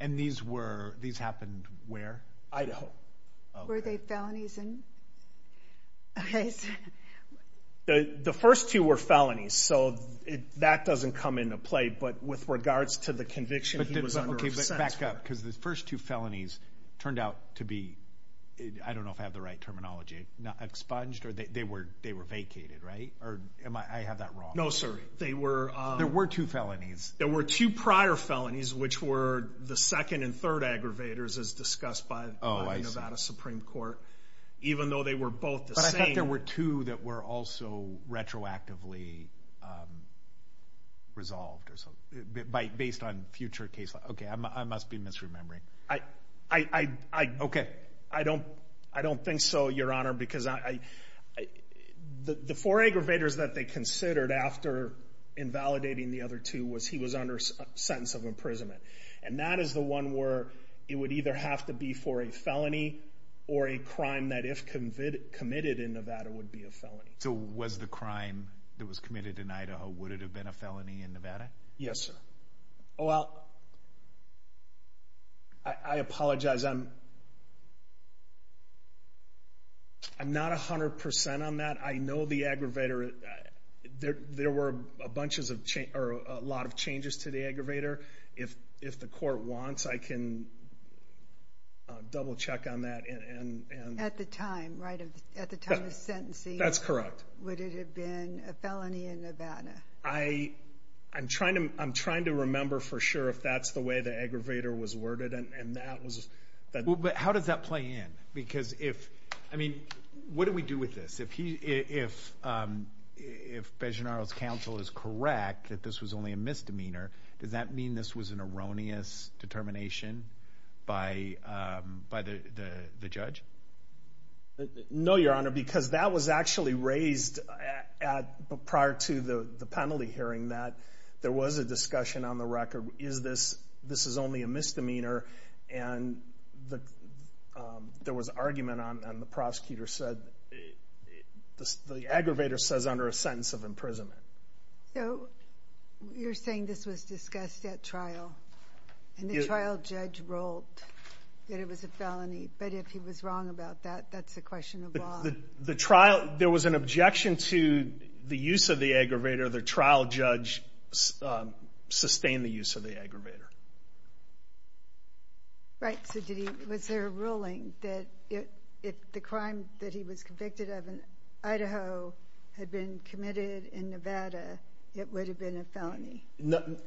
And these happened where? Idaho. Were they felonies in this case? The first two were felonies, so that doesn't come into play. But with regards to the conviction he was under a sentence for. Because the first two felonies turned out to be, I don't know if I have the right terminology, expunged? They were vacated, right? I have that wrong. There were two prior felonies, which were the second and third aggravators, as discussed by the Nevada Supreme Court. But I think there were two that were also retroactively resolved. Based on future cases. Okay, I must be misremembering. I don't think so, Your Honor, because the four aggravators that they considered after invalidating the other two was he was under a sentence of imprisonment. And that is the one where it would either have to be for a felony, or a crime that if committed in Nevada would be a felony. So was the crime that was committed in Idaho, would it have been a felony in Nevada? Yes, sir. I apologize, I'm not 100% on that. I know the aggravator, there were a lot of changes to the aggravator. If the court wants, I can double check on that. At the time, right? At the time of sentencing. Would it have been a felony in Nevada? I'm trying to remember for sure if that's the way the aggravator was worded. But how does that play in? What do we do with this? If Bejanaro's counsel is correct that this was only a misdemeanor, does that mean this was an erroneous determination by the judge? No, Your Honor, because that was actually raised prior to the penalty hearing that there was a discussion on the record, is this, this is only a misdemeanor? And there was argument and the prosecutor said the aggravator says under a sentence of imprisonment. So you're saying this was discussed at trial and the trial judge ruled that it was a felony, but if he was wrong about that, that's a question of law. The trial, there was an objection to the use of the aggravator. The trial judge sustained the use of the aggravator. Right, so was there a ruling that if the crime that he was convicted of in Idaho had been committed in Nevada, it would have been a felony?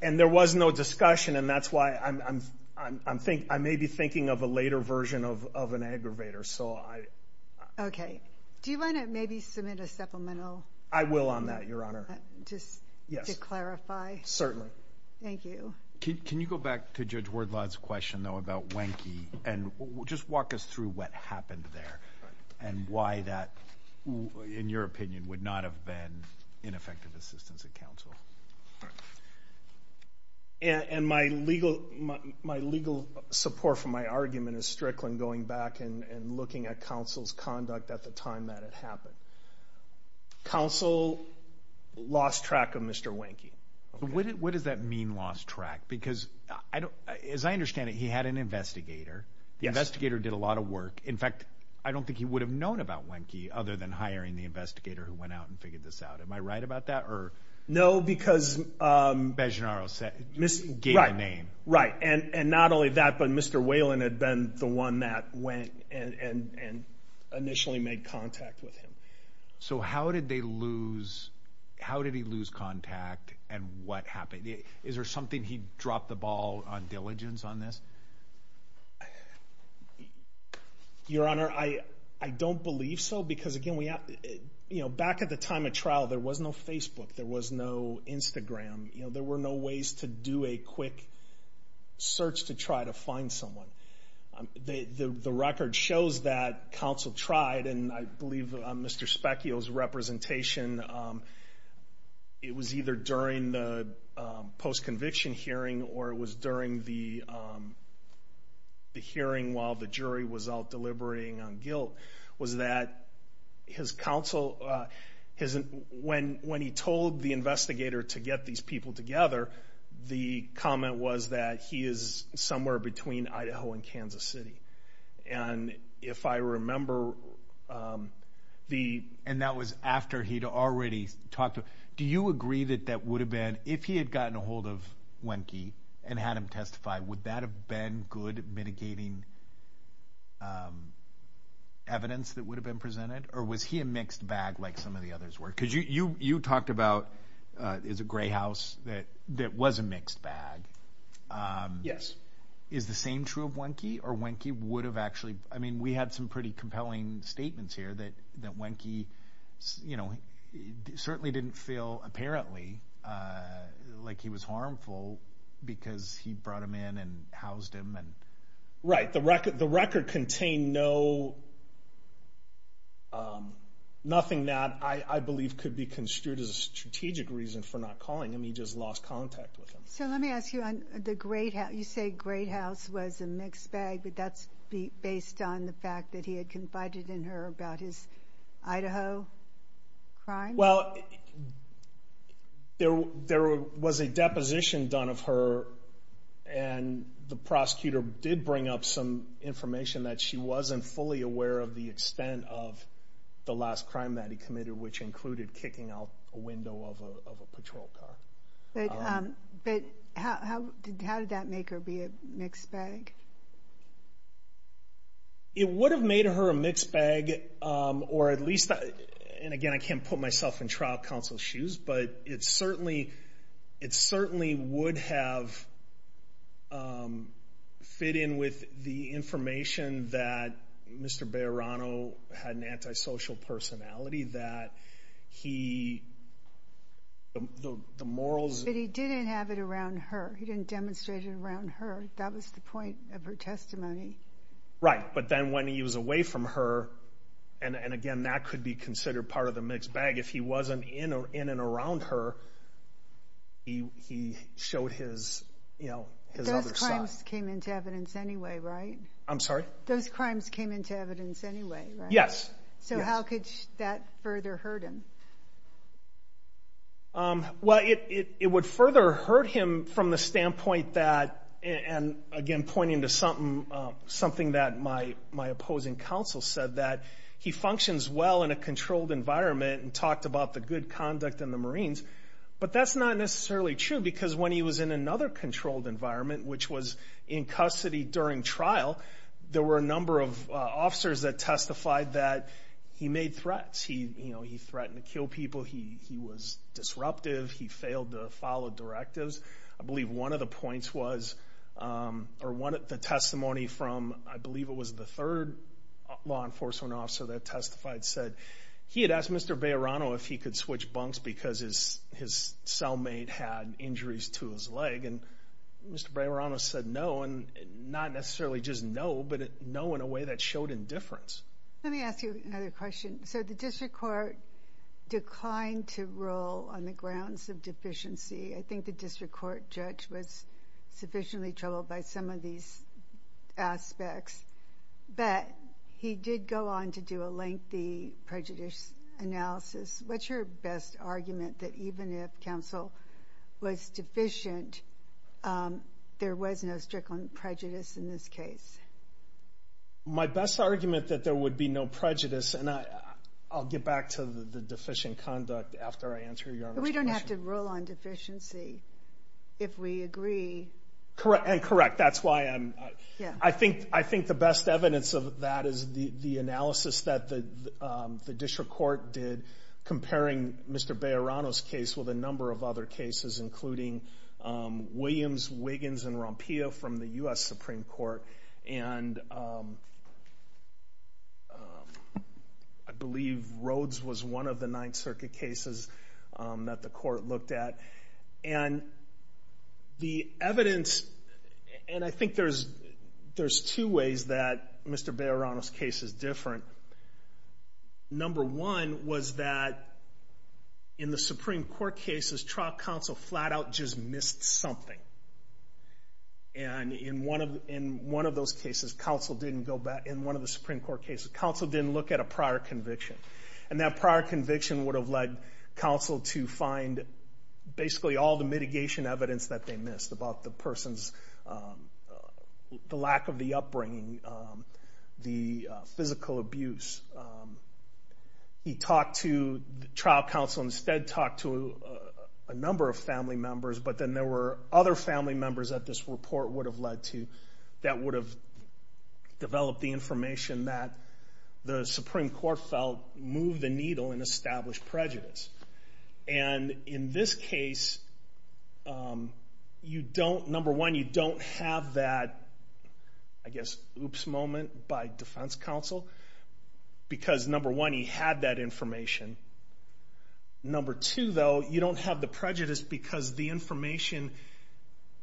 And there was no discussion and that's why I'm, I may be thinking of a later version of an aggravator. Do you want to maybe submit a supplemental? I will on that, Your Honor. To clarify? Certainly. Thank you. Can you go back to Judge Wordlaw's question, though, about Wenke and just walk us through what happened there and why that, in your opinion, would not have been ineffective assistance at counsel? And my legal support for my argument is strictly going back and looking at counsel's conduct at the time that it happened. Counsel lost track of Mr. Wenke. What does that mean, lost track? Because, as I understand it, he had an investigator. The investigator did a lot of work. In fact, I don't think he would have known about Wenke other than hiring the investigator who went out and figured this out. Am I right about that? No, because...Beginaro gave a name. Right, and not only that, but Mr. Whalen had been the one that went and initially made contact with him. So how did he lose contact and what happened? Is there something he dropped the ball on diligence on this? Your Honor, I don't believe so because, again, back at the time of trial, there was no Facebook. There was no Instagram. There were no ways to do a quick search to try to find someone. The record shows that counsel tried, and I believe Mr. Specchio's representation, it was either during the post-conviction hearing or it was during the hearing while the jury was out deliberating on guilt, was that his counsel, when he told the investigator to get these people together, the comment was that he is somewhere between Idaho and Kansas City. And if I remember... And that was after he'd already talked to...Do you agree that that would have been, if he had gotten a hold of Wenke and had him testify, would that have been good mitigating evidence that would have been presented? Or was he a mixed bag like some of the others were? Because you talked about, it's a gray house that was a mixed bag. Is the same true of Wenke? Or Wenke would have actually...I mean, we had some pretty compelling statements here that Wenke certainly didn't feel, apparently, like he was harmful because he brought him in and housed him. Right. The record contained no... nothing that I believe could be construed as a strategic reason for not calling him. He just lost contact with him. So let me ask you, you say gray house was a mixed bag, but that's based on the fact that he had confided in her about his Well, there was a deposition done of her, and the prosecutor did bring up some information that she wasn't fully aware of the extent of the last crime that he committed, which included kicking out a window of a patrol car. But how did that make her be a mixed bag? It would have made her a mixed bag, or at least, and again, I can't put myself in trial counsel's shoes, but it certainly would have fit in with the information that Mr. Bayerano had an antisocial personality, that he...the morals... He didn't demonstrate it around her. That was the point of her testimony. Right. But then when he was away from her, and again, that could be considered part of the mixed bag. If he wasn't in and around her, he showed his other side. Those crimes came into evidence anyway, right? I'm sorry? Those crimes came into evidence anyway, right? Yes. So how could that further hurt him? Well, it would further hurt him from the standpoint that, and again, pointing to something that my opposing counsel said, that he functions well in a controlled environment, and talked about the good conduct in the Marines, but that's not necessarily true, because when he was in another controlled environment, which was in custody during trial, there were a number of officers that killed people. He was disruptive. He failed to follow directives. I believe one of the points was, or the testimony from, I believe it was the third law enforcement officer that testified, said he had asked Mr. Bayerano if he could switch bunks because his cellmate had injuries to his leg, and Mr. Bayerano said no, and not necessarily just no, but no in a way that showed indifference. Let me ask you another question. So the district court declined to rule on the grounds of deficiency. I think the district court judge was sufficiently troubled by some of these aspects, but he did go on to do a lengthy prejudice analysis. What's your best argument that even if counsel was deficient, there was no strict prejudice in this case? My best argument that there would be no prejudice, and I'll get back to the deficient conduct after I answer your question. We don't have to rule on deficiency if we agree. And correct. That's why I'm... I think the best evidence of that is the analysis that the district court did comparing Mr. Bayerano's case with a number of other cases, including Williams, Wiggins, and Rompillo from the U.S. Supreme Court, and I believe Rhodes was one of the Ninth Circuit cases that the court looked at. And the evidence, and I think there's two ways that Mr. Bayerano's case is different. Number one was that in the Supreme Court cases, trial counsel flat out just missed something. And in one of those cases, counsel didn't go back, in one of the Supreme Court cases, counsel didn't look at a prior conviction. And that prior conviction would have led counsel to find basically all the mitigation evidence that they missed about the person's the lack of the upbringing, the physical abuse. He talked to, trial counsel instead talked to a number of family members, but then there were other family members that this report would have led to that would have developed the information that the Supreme Court felt moved the needle and established prejudice. And in this case, you don't, number one, you don't have that I guess oops moment by defense counsel, because number one, he had that information. Number two, though, you don't have the prejudice because the information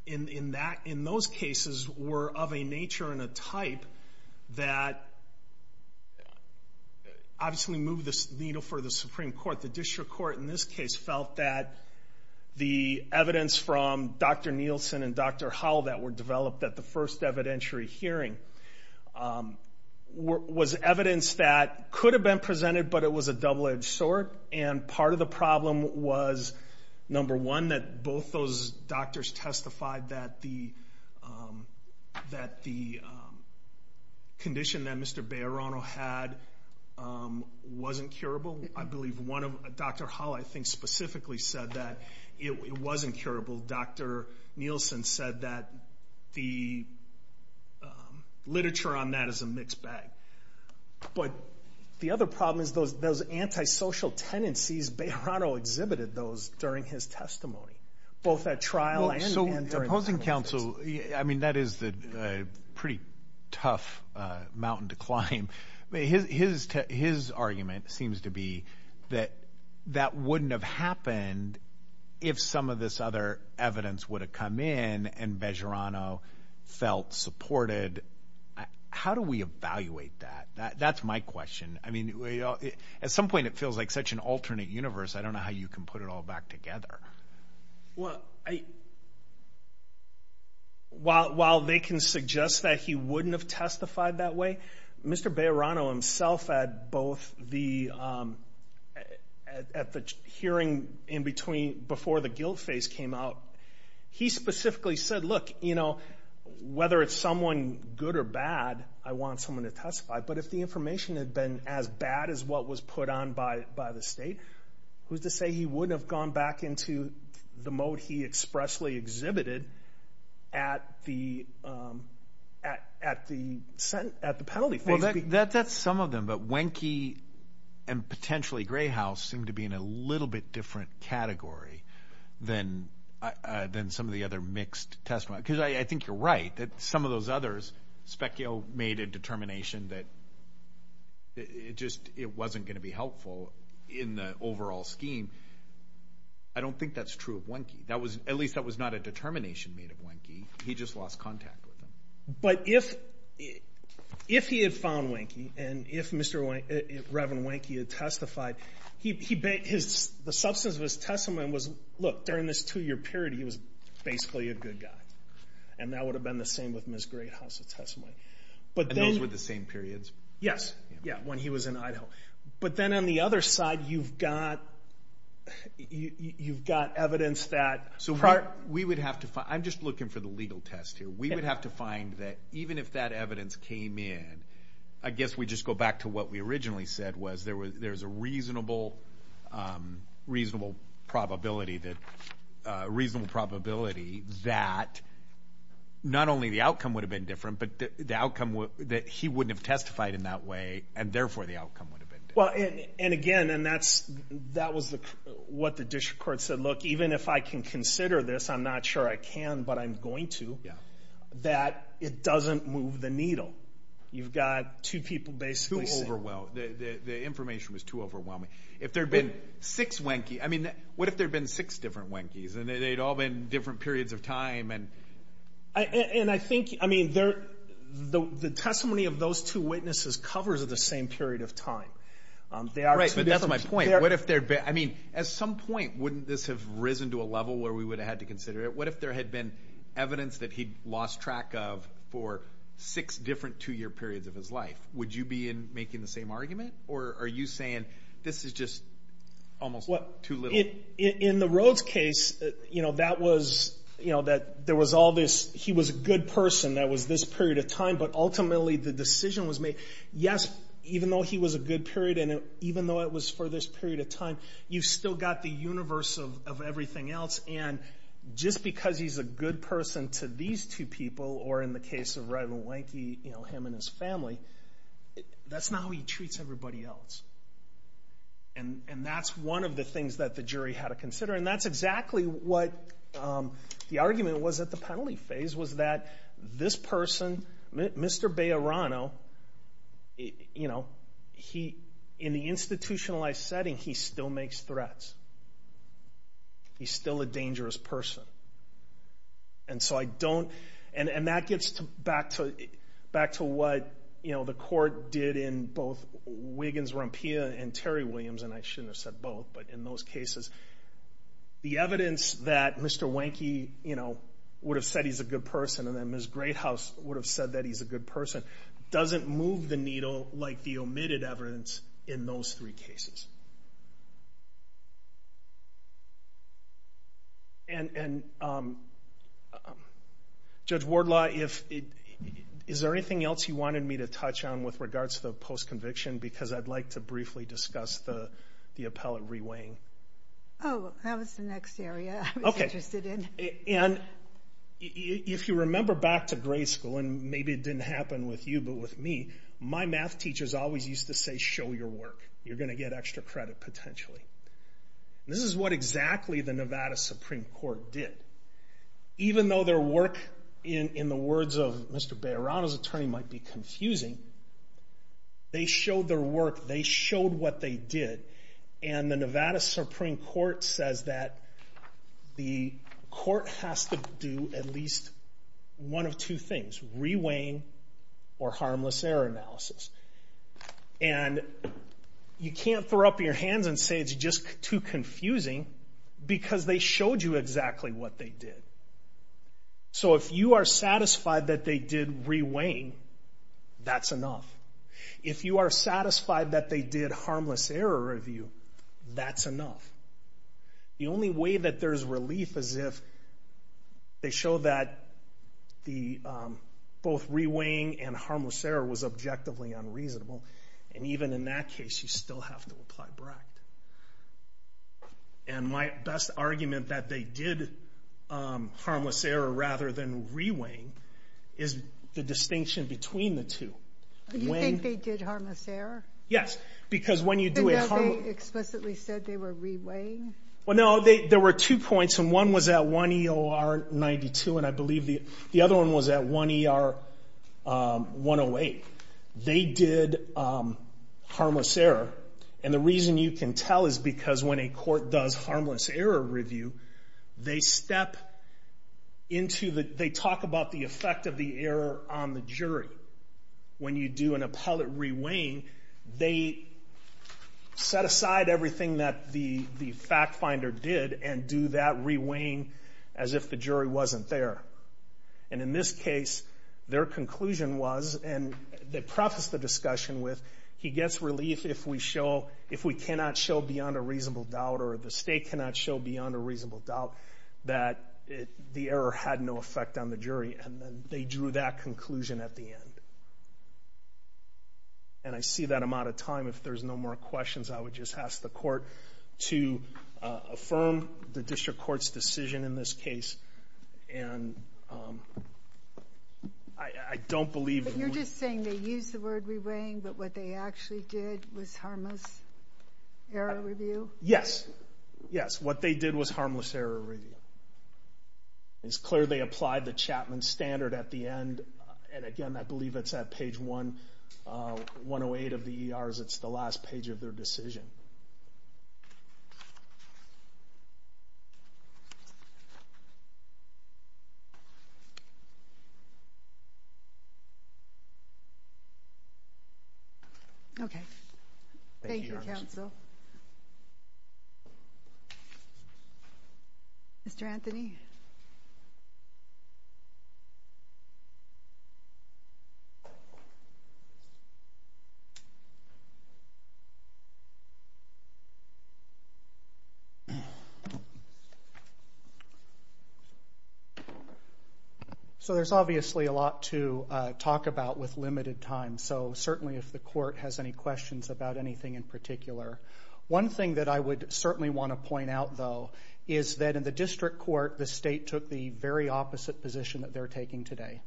in those cases were of a nature and a type that obviously moved the needle for the Supreme Court. The district court in this case felt that the evidence from Dr. Nielsen and Dr. Howell that were developed at the first evidentiary hearing was evidence that could have been presented, but it was a double edged sword. And part of the problem was, number one, that both those doctors testified that the condition that Mr. Bayerano had wasn't curable. I believe one of Dr. Howell I think specifically said that it wasn't curable. Dr. Nielsen said that the literature on that is a mixed bag. But the other problem is those antisocial tendencies Bayerano exhibited those during his testimony, both at trial and opposing counsel. I mean, that is the pretty tough mountain to climb. His his his argument seems to be that that wouldn't have happened if some of this other evidence would have come in and Bayerano felt supported. How do we evaluate that? That's my question. I mean, at some point it feels like such an alternate universe. I don't know how you can put it all back together. Well, while they can suggest that he wouldn't have testified that way, Mr. Bayerano himself at both the hearing in between before the guilt phase came out, he specifically said, look, you know, whether it's someone good or bad, I want someone to state who's to say he wouldn't have gone back into the mode he expressly exhibited at the at the at the penalty. That's some of them. But Wenke and potentially Gray House seem to be in a little bit different category than than some of the other mixed testimony. Because I think you're right that some of those others speculate that Mr. Bayerano made a determination that it just it wasn't going to be helpful in the overall scheme. I don't think that's true of Wenke. That was at least that was not a determination made of Wenke. He just lost contact with him. But if if he had found Wenke and if Mr. Reverend Wenke had testified, he bet his the substance of his testimony was, look, during this two year period, he was but those were the same periods. Yes. Yeah. When he was in Idaho. But then on the other side, you've got you've got evidence that so we would have to I'm just looking for the legal test here. We would have to find that even if that evidence came in, I guess we just go back to what we originally said was there was there's a reasonable reasonable probability that reasonable probability that not only the outcome would have been different, but the outcome that he wouldn't have testified in that way. And therefore, the outcome would have been. Well, and again, and that's that was what the district court said. Look, even if I can consider this, I'm not sure I can, but I'm going to. Yeah, that it doesn't move the needle. You've got two people basically overwhelmed. The information was too overwhelming. If you look at the testimony of those two witnesses, the testimony of those two witnesses covers of the same period of time. They are right. But that's my point. What if they're I mean, at some point, wouldn't this have risen to a level where we would have had to consider it? What if there had been evidence that he lost track of for six different two year periods of his life? Would you be in making the same argument? Or are you saying this is just almost what to live in the roads case? You know, that was you know, that there was all this. He was a good person that was this period of time. But ultimately, the decision was made. Yes, even though he was a good period and even though it was for this period of time, you still got the universe of everything else. And just because he's a good person to these two people or in the case of Red Mulankey, you know, him and his family, that's not how he treats everybody else. And that's one of the things that the jury had to consider. And that's exactly what the argument was at the penalty phase was that this person, Mr. Bayerano, you know, in the institutionalized setting, he still makes threats. He's still a dangerous person. And so I don't, and that gets back to what, you know, the court did in both Wiggins-Rampilla and Terry Williams, and I shouldn't have said both, but in those cases, the evidence that Mr. Wanky, you know, would have said he's a good person and that Ms. Greathouse would have said that he's a good person doesn't move the needle like the omitted evidence in those three cases. And Judge Wardlaw, is there anything else you wanted me to touch on with regards to the post-conviction? Because I'd like to briefly discuss the appellate re-weighing. Oh, that was the next area I was interested in. And if you know, my math teachers always used to say, show your work. You're going to get extra credit potentially. This is what exactly the Nevada Supreme Court did. Even though their work in the words of Mr. Bayerano's attorney might be confusing, they showed their work. They showed what they did. And the Nevada Supreme Court says that the court has to do at least one of two things, re-weighing or harmless error analysis. And you can't throw up your hands and say it's just too confusing because they showed you exactly what they did. So if you are satisfied that they did re-weighing, that's enough. If you are satisfied that they did harmless error review, that's enough. The only way that there's relief is if they show that both re-weighing and harmless error was objectively unreasonable. And even in that case, you still have to apply BRACT. And my best argument that they did harmless error rather than re-weighing is the distinction between the two. Do you think they did harmless error? Yes. They explicitly said they were re-weighing? There were two points. One was at 1 EOR 92 and I believe the other one was at 1 EOR 108. They did harmless error. And the reason you can tell is because when a court does harmless error review, they step into the, they talk about the effect of the error on the jury. When you do an appellate re-weighing, they set aside everything that the fact finder did and do that re-weighing as if the jury wasn't there. And in this case, their conclusion was, and they prefaced the discussion with, he gets relief if we show, if we cannot show beyond a reasonable doubt or the state cannot show beyond a reasonable doubt that the error had no effect on the jury. And then they drew that conclusion at the end. And I see that I'm out of time. If there's no more questions, I would just ask the court to affirm the district court's decision in this case. And I don't believe... But you're just saying they used the word re-weighing, but what they actually did was harmless error review? Yes. Yes. What they did was harmless error review. It's clear they applied the Chapman Standard at the end. And again, I believe it's at page 108 of the ERs. It's the last page of their decision. Okay. Thank you, counsel. Mr. Anthony? Mr. Anthony? So there's obviously a lot to talk about with limited time. So certainly if the court has any questions about anything in particular. One thing that I would certainly want to point out, though, is that in the district court, the state took the very opposite position that they're taking today.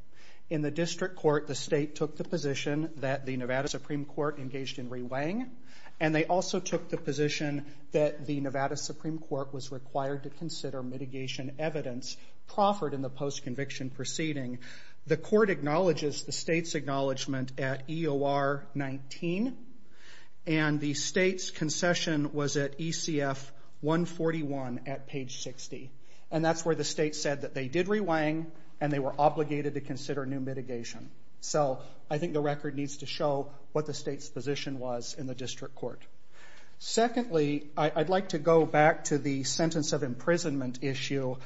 In the district court, the state took the position that the Nevada Supreme Court engaged in re-weighing. And they also took the position that the Nevada Supreme Court was required to consider mitigation evidence proffered in the post-conviction proceeding. The court acknowledges the state's acknowledgement at EOR 19. And the state's concession was at ECF 141 at page 60. And that's where the state said that they did re-weighing and they were obligated to consider new mitigation. So I think the record needs to show what the state's position was in the district court. Secondly, I'd like to go back to the sentence of imprisonment issue.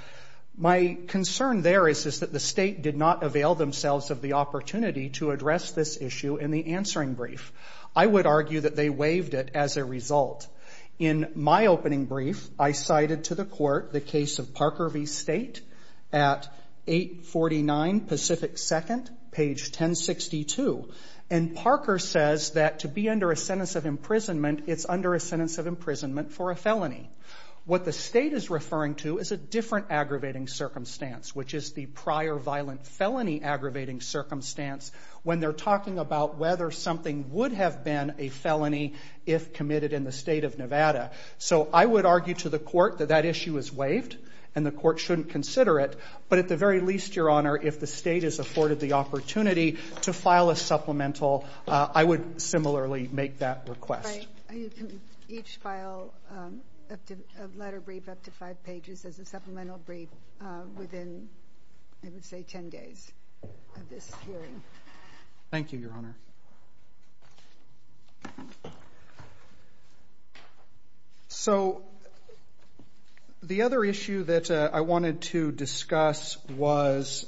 My concern there is that the state did not avail themselves of the opportunity to address this issue in the answering brief. I would argue that they waived it as a result. In my opening brief, I cited to the court the case of Parker v. State at 849 Pacific 2nd, page 1062. And Parker says that to be under a sentence of imprisonment, it's under a sentence of imprisonment for a felony. What the state is referring to is a different aggravating circumstance, which is the prior violent felony aggravating circumstance when they're talking about whether something would have been a felony if committed in the state of Nevada. So I would argue to the court that that issue is waived and the court shouldn't consider it. But at the very least, Your Honor, if the state is afforded the opportunity to file a supplemental, I would similarly make that request. Right. You can each file a letter brief up to five pages as a supplemental brief within, I would say, 10 days of this hearing. Thank you, Your Honor. So, the other issue that I wanted to discuss was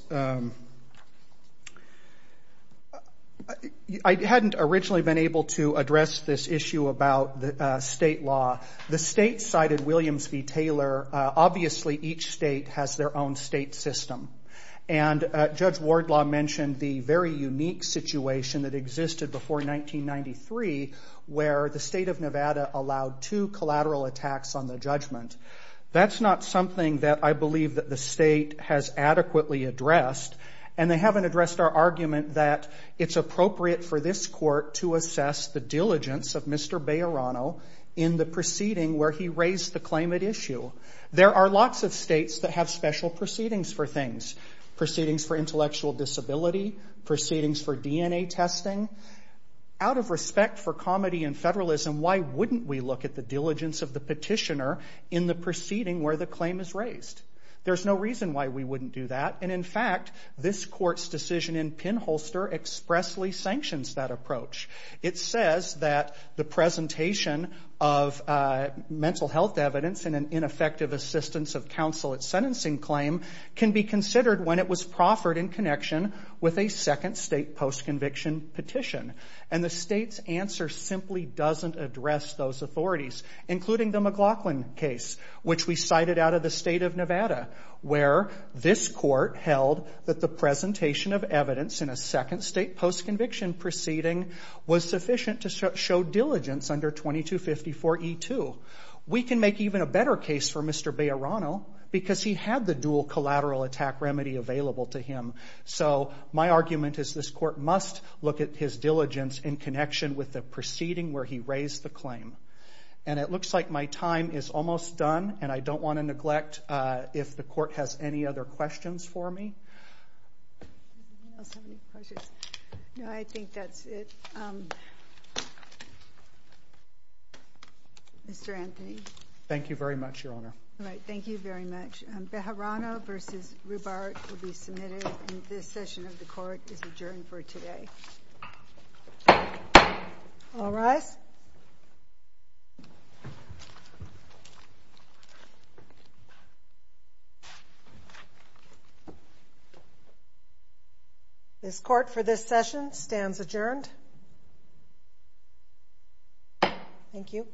I hadn't originally been able to address this issue about state law. The state cited Williams v. Taylor. Obviously, each state has their own state system. And Judge Wardlaw mentioned the very unique situation that existed before 1993 where the state of Nevada allowed two collateral attacks on the judgment. That's not something that I believe that the state has adequately addressed. And they haven't addressed our argument that it's appropriate for this court to assess the diligence of Mr. Bayerano in the proceeding where he raised the claimant issue. There are lots of states that have special proceedings for things. Proceedings for intellectual disability, proceedings for DNA testing. Out of respect for comedy and federalism, why wouldn't we look at the diligence of the petitioner in the proceeding where the claim is raised? There's no reason why we wouldn't do that. And in fact, this court's decision in pinholster expressly sanctions that approach. It says that the presentation of mental health evidence and an ineffective assistance of counsel at sentencing claim can be considered when it was proffered in connection with a second state postconviction petition. And the state's answer simply doesn't address those authorities, including the McLaughlin case, which we cited out of the state of Nevada, where this court held that the presentation of evidence in a second state postconviction proceeding was sufficient to show diligence under 2254E2. We can make even a better case for Mr. McLaughlin. So my argument is this court must look at his diligence in connection with the proceeding where he raised the claim. And it looks like my time is almost done, and I don't want to neglect if the court has any other questions for me. Does anyone else have any questions? No, I think that's it. Mr. Anthony. Thank you very much, Your Honor. All right, thank you very much. Bejarano v. Rubar will be submitted, and this session of the court is adjourned for today. All rise. This court for this session stands adjourned. Thank you.